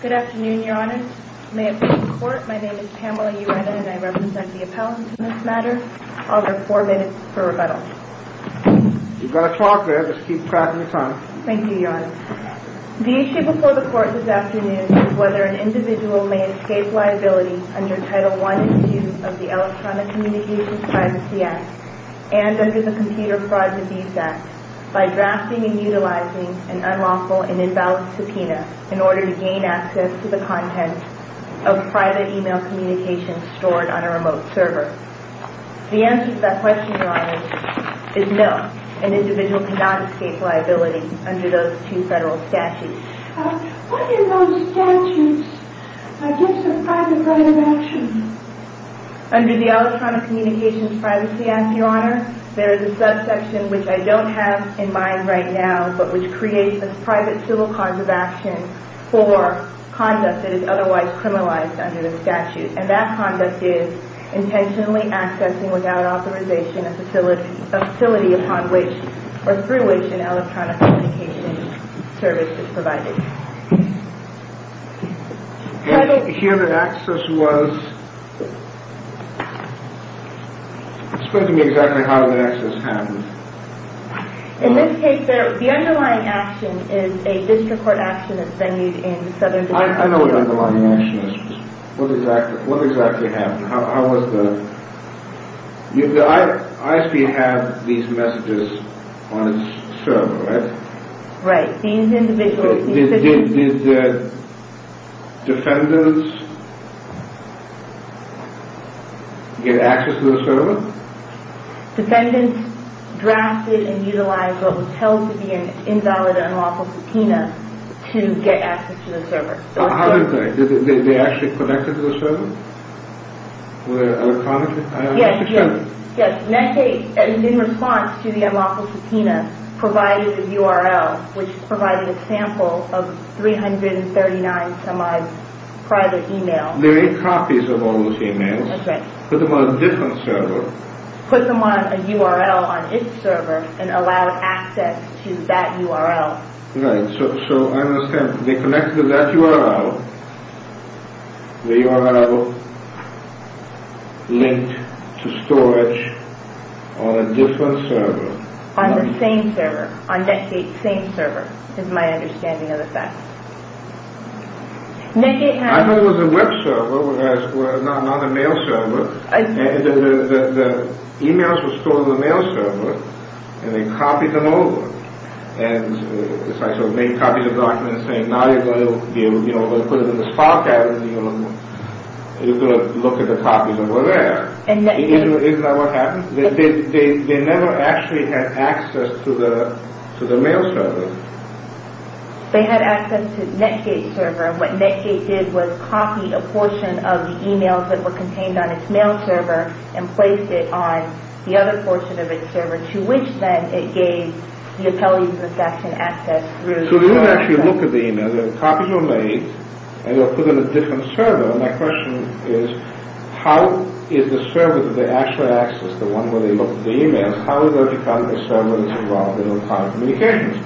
Good afternoon, Your Honor. May it please the Court, my name is Pamela Urena and I represent the appellants in this matter. I'll give four minutes per rebuttal. You've got a clock there, just keep tracking your time. Thank you, Your Honor. The issue before the Court this afternoon is whether an individual may escape liability under Title I issues of the Electronic Communications Privacy Act and under the Computer Fraud and Deceit Act by drafting and utilizing an unlawful and imbalanced subpoena in order to gain access to the content of private email communications stored on a remote server. The answer to that question, Your Honor, is no, an individual cannot escape liability under those two federal statutes. What are those statutes against the private right of action? Under the Electronic Communications Privacy Act, Your Honor, there is a subsection which I don't have in mind right now, but which creates a private civil cause of action for conduct that is otherwise criminalized under the statute. And that conduct is intentionally accessing without authorization a facility upon which or through which an electronic communication service is provided. Here the access was... Explain to me exactly how the access happened. In this case, the underlying action is a district court action that's venued in the Southern District Court. I know what the underlying action is. What exactly happened? How was the... The ISB had these messages on its server, right? Right. These individuals... Did the defendants get access to the server? Defendants drafted and utilized what was held to be an invalid and unlawful subpoena to get access to the server. How did they? Did they actually connect to the server electronically? Yes. Yes, Medicaid, in response to the unlawful subpoena, provided a URL which provided a sample of 339 some-odd private emails. There are eight copies of all those emails. That's right. Put them on a different server. Put them on a URL on its server and allowed access to that URL. Right. So, I understand. They connected to that URL. The URL linked to storage on a different server. On the same server. On Medicaid's same server, is my understanding of the facts. Medicaid had... I know it was a web server, not a mail server. The emails were stored on the mail server and they copied them over. And so they copied the documents saying, now you're going to put it in this file cabinet and you're going to look at the copies and we're there. Isn't that what happened? They never actually had access to the mail server. They had access to Medicaid's server. What Medicaid did was copy a portion of the emails that were contained on its mail server and placed it on the other portion of its server, to which then it gave the appellees and the staffs an access through... So, they wouldn't actually look at the emails. The copies were made and they were put in a different server. My question is, how is the server that they actually access, the one where they look at the emails, how are they going to find the server that's involved in electronic communications?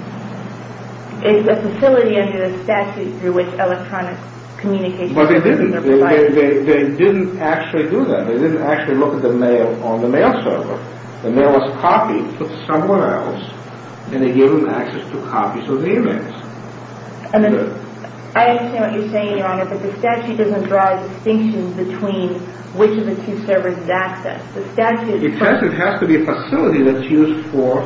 It's a facility under the statute through which electronic communications services are provided. But they didn't actually do that. They didn't actually look at the mail on the mail server. The mail was copied to someone else and they gave them access to copies of the emails. I understand what you're saying, Your Honor, but the statute doesn't draw a distinction between which of the two servers is accessed. It has to be a facility that's used for...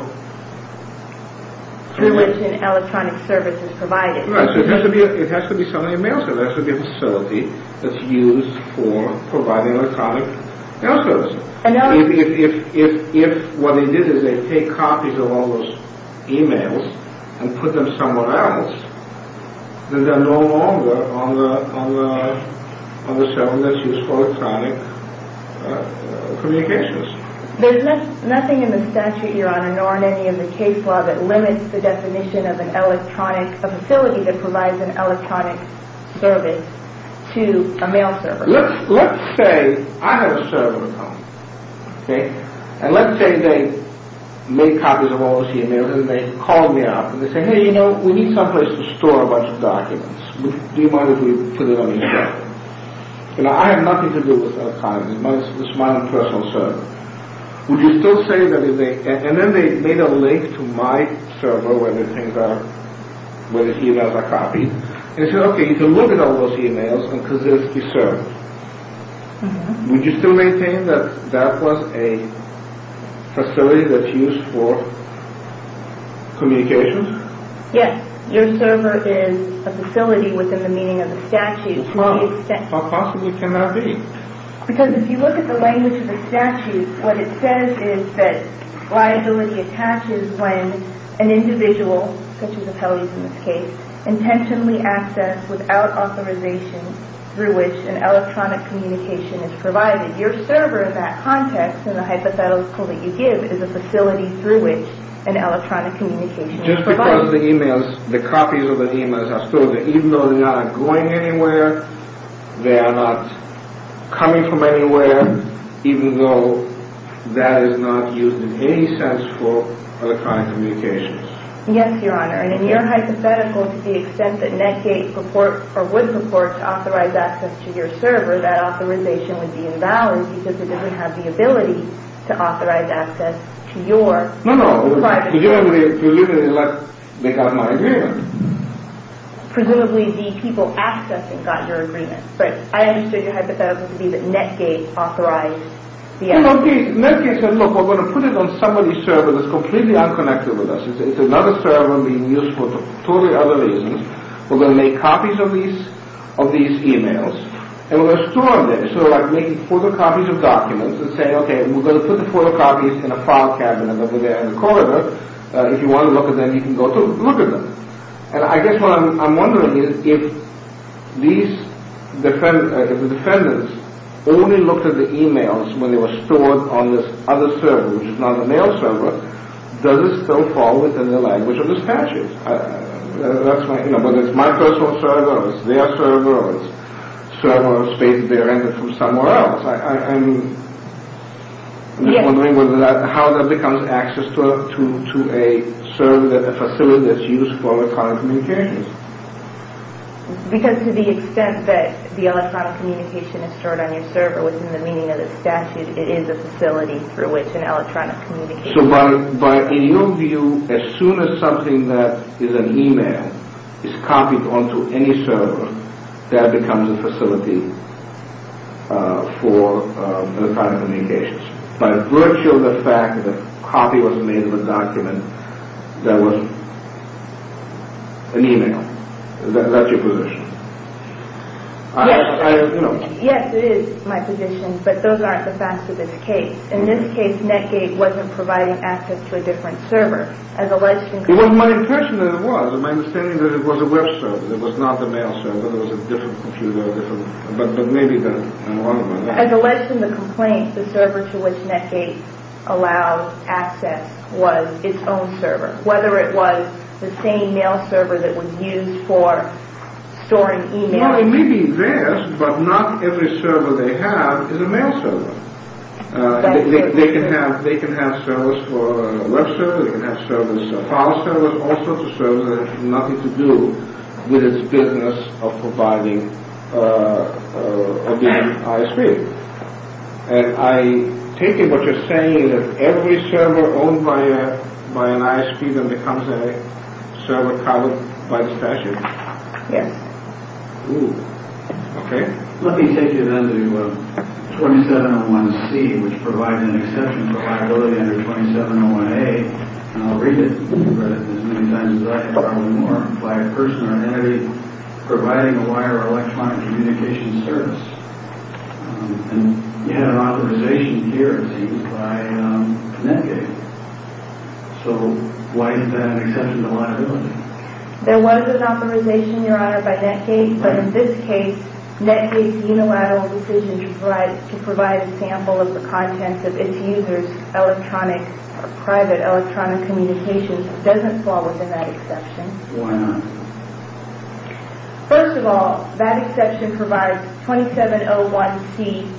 Through which an electronic service is provided. Right, so it has to be something in the mail server. It has to be a facility that's used for providing electronic mail services. If what they did is they take copies of all those emails and put them somewhere else, then they're no longer on the server that's used for electronic communications. There's nothing in the statute, Your Honor, nor in any of the case law that limits the definition of an electronic... a facility that provides an electronic service to a mail server. Let's say I have a server at home, okay? And let's say they made copies of all those emails and they called me up and they said, hey, you know, we need someplace to store a bunch of documents. Do you mind if we put it on your server? You know, I have nothing to do with that kind of thing. It's my own personal server. Would you still say that if they... And then they made a link to my server where the things are... where the emails are copied. They said, okay, you can look at all those emails because it's the server. Would you still maintain that that was a facility that's used for communications? Yes. Your server is a facility within the meaning of the statute. How possibly can that be? Because if you look at the language of the statute, what it says is that liability attaches when an individual, such as appellees in this case, intentionally accessed without authorization through which an electronic communication is provided. Your server, in that context, in the hypothetical that you give, is a facility through which an electronic communication is provided. Just because the emails, the copies of the emails are stored there, even though they're not going anywhere, they are not coming from anywhere, even though that is not used in any sense for electronic communications. Yes, Your Honor, and in your hypothetical, to the extent that Netgate would support to authorize access to your server, that authorization would be invalid because it doesn't have the ability to authorize access to your private server. No, no. If you limit it, it's like they got my agreement. Presumably the people accessing got your agreement. Right. I understood your hypothetical to be that Netgate authorized the access. Yes. Netgate said, look, we're going to put it on somebody's server that's completely unconnected with us. It's another server being used for totally other reasons. We're going to make copies of these emails, and we're going to store them there. So we're making photocopies of documents and saying, okay, we're going to put the photocopies in a file cabinet over there in the corridor. If you want to look at them, you can go to look at them. And I guess what I'm wondering is if the defendants only looked at the emails when they were stored on this other server, which is not a mail server, does it still fall within the language of the statute? Whether it's my personal server, or it's their server, or it's a server of space they rented from somewhere else. I'm just wondering how that becomes access to a facility that's used for electronic communications. Because to the extent that the electronic communication is stored on your server, within the meaning of the statute, it is a facility through which an electronic communication is stored. So in your view, as soon as something that is an email is copied onto any server, that becomes a facility for electronic communications. By virtue of the fact that a copy was made of a document that was an email. That's your position. Yes, it is my position, but those aren't the facts of this case. In this case, NetGate wasn't providing access to a different server. Well, my impression of it was. My understanding is that it was a web server. It was not the mail server. It was a different computer, but maybe that. As alleged in the complaint, the server to which NetGate allowed access was its own server. Whether it was the same mail server that was used for storing emails. It may be theirs, but not every server they have is a mail server. They can have servers for a web server, they can have servers for a file server, all sorts of servers that have nothing to do with its business of providing a different ISP. And I take it what you're saying is that every server owned by an ISP then becomes a server covered by the statute. Yes. Okay. Let me take you then to 2701C, which provides an exception for liability under 2701A, and I'll read it as many times as I can probably more, by a person or entity providing a wire or electronic communication service. And you had an authorization here, it seems, by NetGate. So why is that an exception to liability? There was an authorization, Your Honor, by NetGate, but in this case NetGate's unilateral decision to provide a sample of the contents of its users' private electronic communications doesn't fall within that exception. Why not? First of all, that exception provides 2701C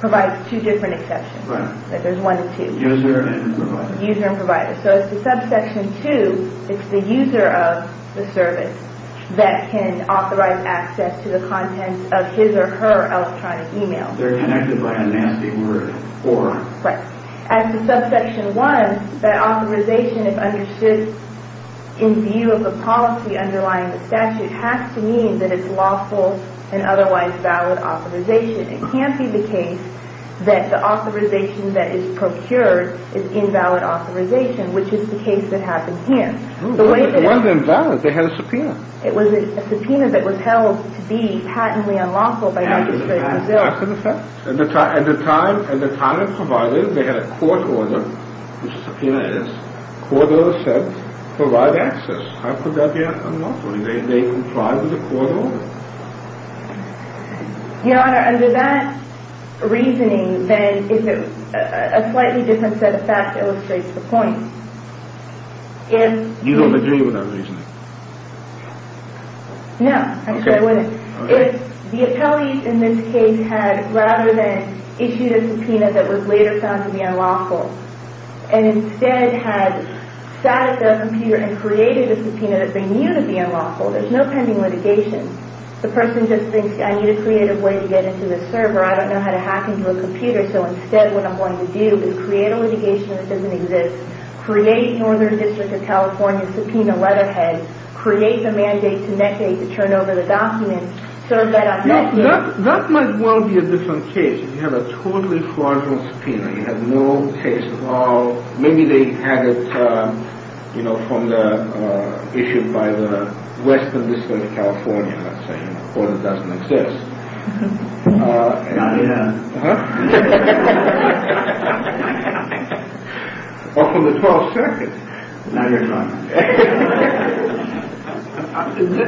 provides two different exceptions. Right. User and provider. User and provider. So as to subsection 2, it's the user of the service that can authorize access to the contents of his or her electronic email. They're connected by a nasty word, or. Right. As to subsection 1, that authorization is understood in view of the policy underlying the statute has to mean that it's lawful and otherwise valid authorization. It can't be the case that the authorization that is procured is invalid authorization, which is the case that happened here. It wasn't invalid. They had a subpoena. It was a subpoena that was held to be patently unlawful. Yeah, that's an offense. At the time of providing, they had a court order, which a subpoena is, court order said provide access. How could that be unlawful? Did they comply with the court order? Your Honor, under that reasoning, then, a slightly different set of facts illustrates the point. You don't agree with that reasoning? No. I'm sure I wouldn't. If the appellees in this case had rather than issued a subpoena that was later found to be unlawful and instead had sat at their computer and created a subpoena that they knew to be unlawful, there's no pending litigation. The person just thinks I need a creative way to get into the server. I don't know how to hack into a computer, so instead what I'm going to do is create a litigation that doesn't exist, create Northern District of California subpoena Leatherhead, create the mandate to Medicaid to turn over the documents, serve that on Medicaid. That might well be a different case. You have a totally fraudulent subpoena. You have no case at all. Or maybe they had it issued by the Western District of California, let's say, or it doesn't exist. Not yet. Or from the 12th Circuit. Not yet, Your Honor.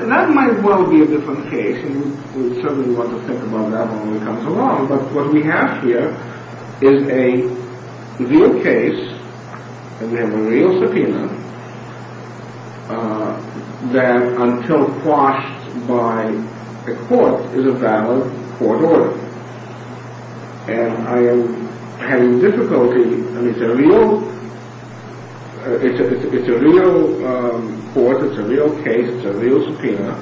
That might well be a different case, and we certainly want to think about that when it comes along. But what we have here is a real case, and we have a real subpoena, that, until quashed by a court, is a valid court order. And I am having difficulty. It's a real court, it's a real case, it's a real subpoena.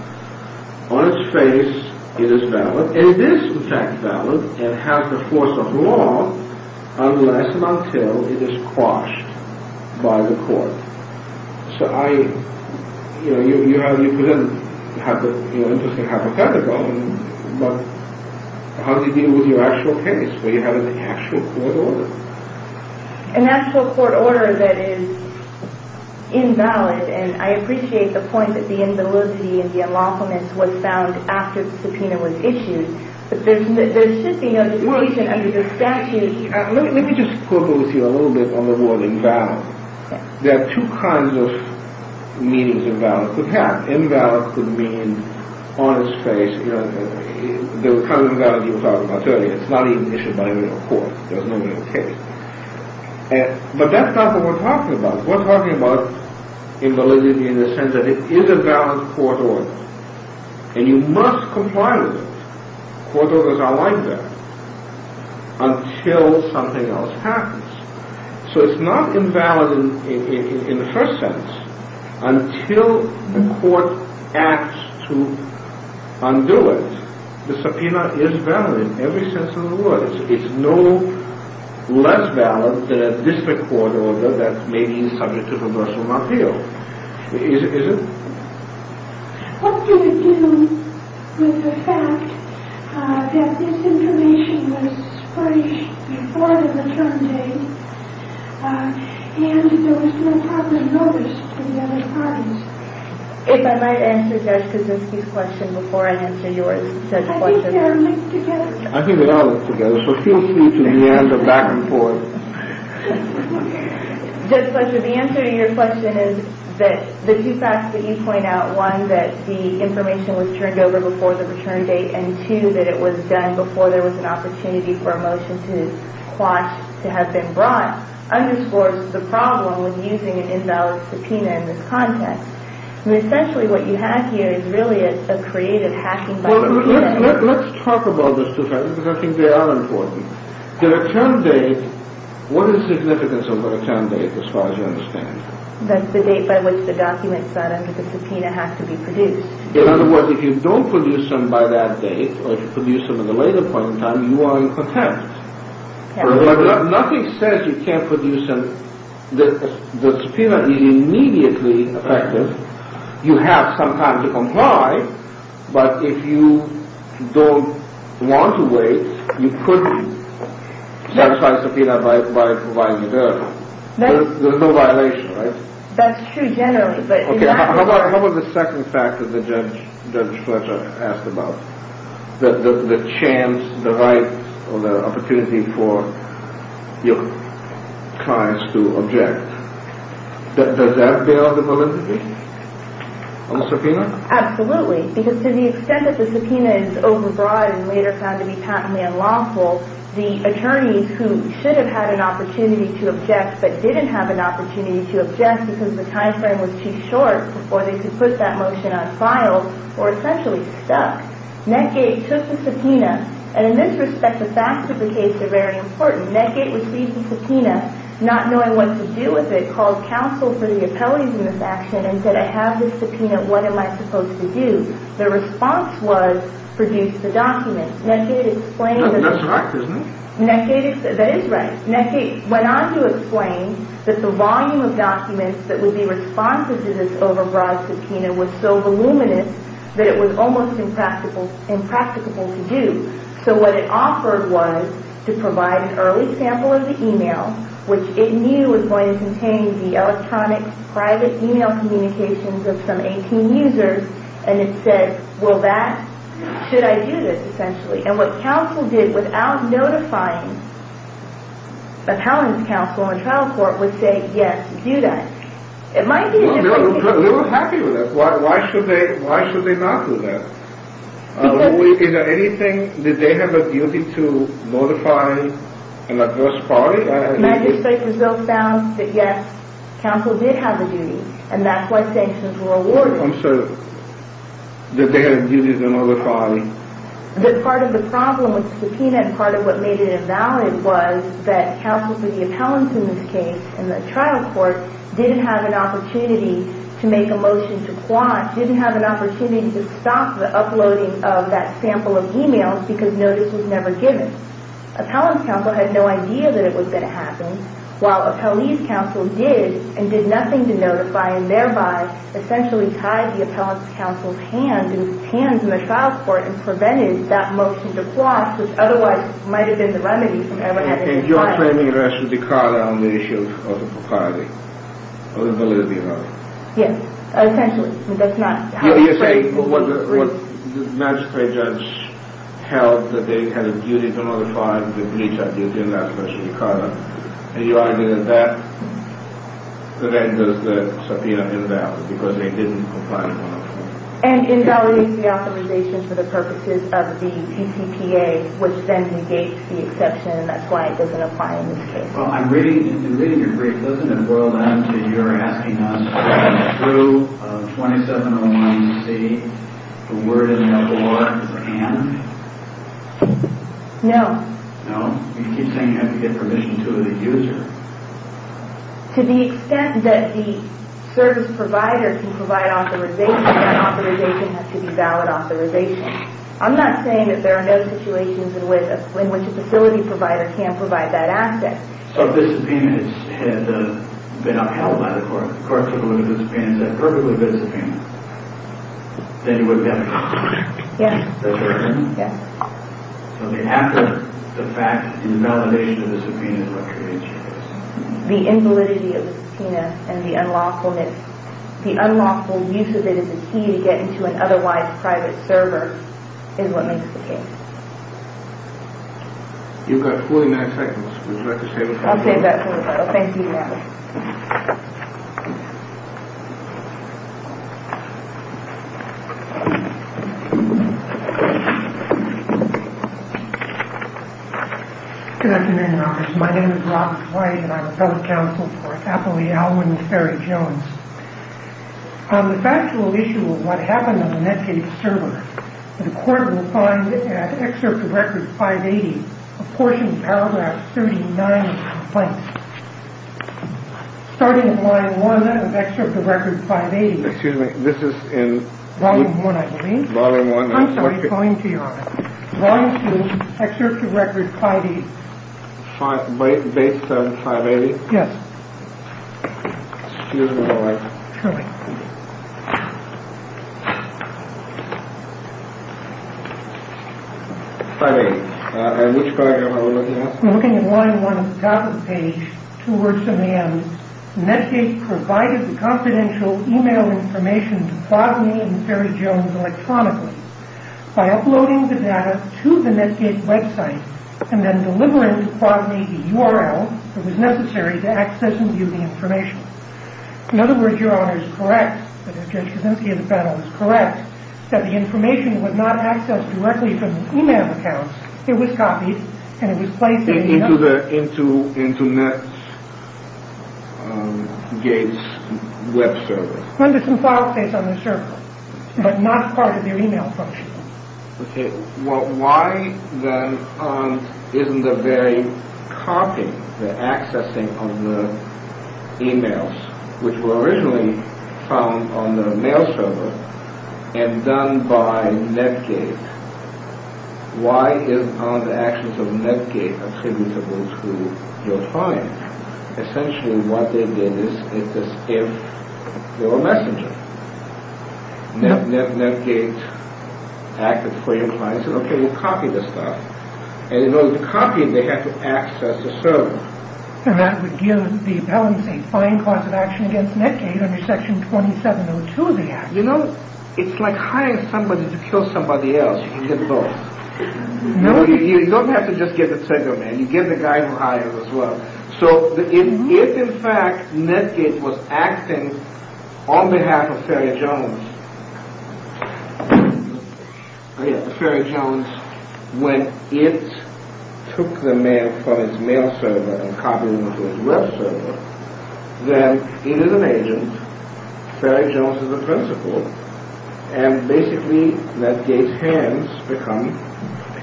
On its face, it is valid. But it is, in fact, valid, and has the force of law, unless and until it is quashed by the court. So you presented an interesting hypothetical, but how do you deal with your actual case, where you have an actual court order? An actual court order that is invalid, and I appreciate the point that the invalidity and the unlawfulness was found after the subpoena was issued, but there should be no reason under the statute... Let me just quibble with you a little bit on the word invalid. There are two kinds of meanings that invalid could have. Invalid could mean on its face, the kind of invalid you were talking about earlier. It's not even issued by a real court. There's no real case. But that's not what we're talking about. We're talking about invalidity in the sense that it is a valid court order, and you must comply with it. Court orders are like that, until something else happens. So it's not invalid in the first sense, until the court acts to undo it. The subpoena is valid in every sense of the word. It's no less valid than a district court order that may be subject to reversal of appeal. Is it? What did it do with the fact that this information was published before the maternity, and there was no public notice to the other parties? If I might answer Jessica's question before I answer yours. I think they are linked together. I think they are linked together, so feel free to meander back and forth. Judge Fletcher, the answer to your question is that the two facts that you point out, one, that the information was turned over before the return date, and two, that it was done before there was an opportunity for a motion to quash to have been brought, underscores the problem with using an invalid subpoena in this context. I mean, essentially what you have here is really a creative hacking mechanism. Well, let's talk about those two facts, because I think they are important. The return date, what is the significance of the return date as far as you understand? That's the date by which the documents signed under the subpoena have to be produced. In other words, if you don't produce them by that date, or if you produce them at a later point in time, you are in contempt. Nothing says you can't produce them. The subpoena is immediately effective. You have some time to comply, but if you don't want to wait, you couldn't satisfy the subpoena by providing it early. There's no violation, right? That's true, generally. How about the second fact that Judge Fletcher asked about? The chance, the right, or the opportunity for your clients to object. Does that bear the validity of the subpoena? Absolutely, because to the extent that the subpoena is overbroad and later found to be patently unlawful, the attorneys who should have had an opportunity to object but didn't have an opportunity to object because the time frame was too short before they could put that motion on file were essentially stuck. Netgate took the subpoena, and in this respect, the facts of the case are very important. Netgate received the subpoena, not knowing what to do with it, called counsel for the appellees in this action and said, I have this subpoena, what am I supposed to do? The response was, produce the documents. That's right, isn't it? That is right. Netgate went on to explain that the volume of documents that would be responsive to this overbroad subpoena was so voluminous that it was almost impracticable to do. So what it offered was to provide an early sample of the e-mail, which it knew was going to contain the electronic private e-mail communications of some 18 users, and it said, should I do this, essentially. And what counsel did without notifying accountants, counsel, or trial court, was say, yes, do that. They were happy with that. Why should they not do that? Is there anything, did they have a duty to notify an adverse party? The magistrate's result found that, yes, counsel did have a duty, and that's why sanctions were awarded. I'm sorry, did they have a duty to notify? Part of the problem with the subpoena and part of what made it invalid was that counsel for the appellants in this case and the trial court didn't have an opportunity to make a motion to quash, didn't have an opportunity to stop the uploading of that sample of e-mails because notice was never given. Appellant's counsel had no idea that it was going to happen, while appellee's counsel did and did nothing to notify and thereby essentially tied the appellant's counsel's hands and his hands in the trial court and prevented that motion to quash, which otherwise might have been the remedy. And you're claiming rest of the card on the issue of the propriety, of the validity of that? Yes, essentially. You're saying what the magistrate judge held, that they had a duty to notify, the police had a duty to notify, especially the card on it, and you argue that that does the subpoena invalid because they didn't comply with one of the rules. And invalidates the authorization for the purposes of the PCPA, which then negates the exception and that's why it doesn't apply in this case. Well, I'm reading, in reading your brief, doesn't it boil down to you're asking us whether through 2701C the word is no more than can? No. No? You keep saying you have to give permission to the user. To the extent that the service provider can provide authorization, that authorization has to be valid authorization. I'm not saying that there are no situations in which a facility provider can provide that access. So if this subpoena had been upheld by the court, the court took a look at the subpoena and said perfectly good subpoena, then you would get permission? Yes. So the act of, the fact, the invalidation of the subpoena is what creates changes. The invalidity of the subpoena and the unlawfulness, the inability to get into an otherwise private server is what makes the case. You've got 49 seconds. Would you like to save it for the final? I'll save that for the final. Thank you, Matt. Good afternoon, Your Honor. My name is Rob White and I'm a fellow counsel for Attalee Alwin and Ferry Jones. On the factual issue of what happened on the Medicaid server, the court will find at Excerpt of Record 580, a portion of Paragraph 39 of the complaint. Starting at Line 1 of Excerpt of Record 580. Excuse me, this is in... Volume 1, I believe. Volume 1. I'm sorry, going to Your Honor. Volume 2, Excerpt of Record 580. Base 7, 580? Yes. Excuse me, Your Honor. Sure. 580. And which paragraph are we looking at? We're looking at Line 1 at the top of the page, two words in the end. Medicaid provided the confidential e-mail information to Quadney and Ferry Jones electronically. By uploading the data to the Medicaid website and then delivering to Quadney the URL that was necessary to access and view the information. In other words, Your Honor is correct, Judge Kuczynski is correct, that the information was not accessed directly from the e-mail account. It was copied and it was placed in the... Into Netscape's web server. Under some file space on the server, but not part of their e-mail function. Okay. Well, why then isn't the very copying, the accessing of the e-mails, which were originally found on the mail server and done by Medicaid, why isn't the access of Medicaid attributable to your client? Essentially what it is, it is if you're a messenger. Netgate acted for your client and said, okay, we'll copy this stuff. And in order to copy it, they have to access the server. And that would give the appellant a fine cause of action against Netgate under Section 2702 of the Act. You know, it's like hiring somebody to kill somebody else. You can get both. You don't have to just give it to the man. You give the guy who hired him as well. So if, in fact, Netgate was acting on behalf of Ferry Jones, when it took the mail from its mail server and copied it into its web server, then it is an agent, Ferry Jones is the principal, and basically Netgate's hands become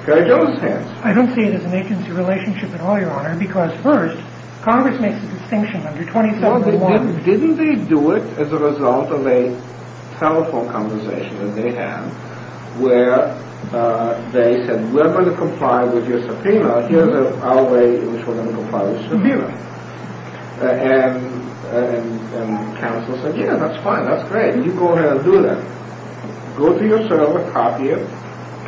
Ferry Jones' hands. I don't see it as an agency relationship at all, Your Honor, because first, Congress makes a distinction under 2701. Well, didn't they do it as a result of a telephone conversation that they had where they said, we're going to comply with your subpoena. Here's our way in which we're going to comply with your subpoena. And counsel said, yeah, that's fine, that's great. You go ahead and do that. Go to your server, copy it,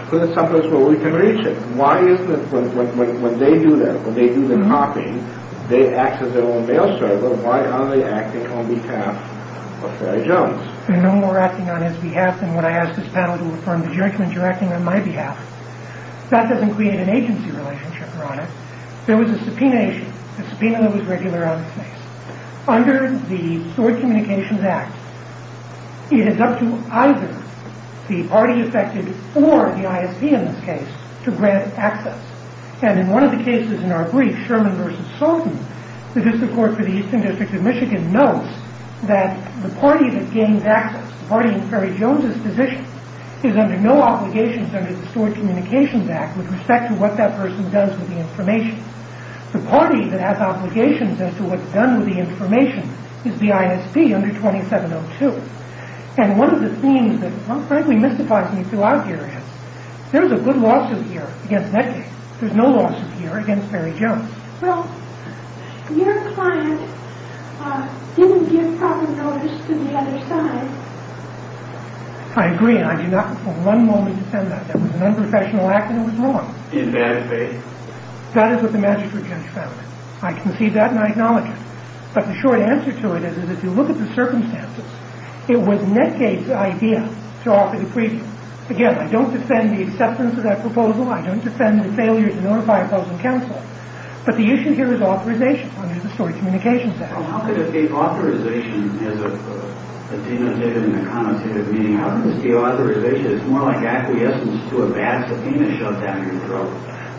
put it someplace where we can reach it. Why is it that when they do that, when they do the copying, they access their own mail server, why aren't they acting on behalf of Ferry Jones? No more acting on his behalf than when I ask this panel to affirm the judgment you're acting on my behalf. That doesn't create an agency relationship, Your Honor. There was a subpoena issue, a subpoena that was regular on the case. Under the Steward Communications Act, it is up to either the party affected or the ISP in this case to grant access. And in one of the cases in our brief, Sherman v. Sultan, the District Court for the Eastern District of Michigan notes that the party that gains access, the party in Ferry Jones' position, is under no obligations under the Steward Communications Act with respect to what that person does with the information. The party that has obligations as to what's done with the information is the ISP under 2702. And one of the things that frankly mystifies me throughout here is, there's a good lawsuit here against Medicaid. There's no lawsuit here against Ferry Jones. Well, your client didn't give proper notice to the other side. I agree, and I do not for one moment defend that. That was an unprofessional act, and it was wrong. In bad faith. That is what the magistrate judge found. I concede that, and I acknowledge it. But the short answer to it is, is if you look at the circumstances, it was Medicaid's idea to offer the precinct. Again, I don't defend the acceptance of that proposal. I don't defend the failure to notify opposing counsel. But the issue here is authorization under the Steward Communications Act. Well, how could it be authorization as a denotative and a connotative meaning? How could this be authorization? It's more like acquiescence to a bad subpoena shoved out of your throat.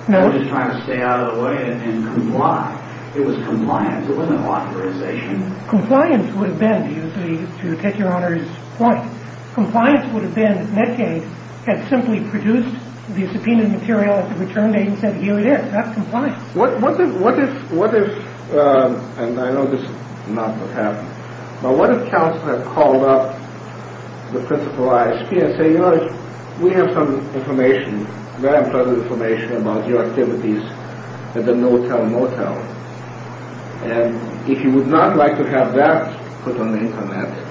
No. Just trying to stay out of the way and comply. It was compliance. It wasn't authorization. Compliance would have been, to take your Honor's point, compliance would have been Medicaid had simply produced the subpoenaed material at the return date and said here it is. That's compliance. What if, and I know this is not what happened, but what if counsel had called up the principal ISP and said, you know, we have some information, very important information about your activities at the Motel Motel, and if you would not like to have that put on the Internet.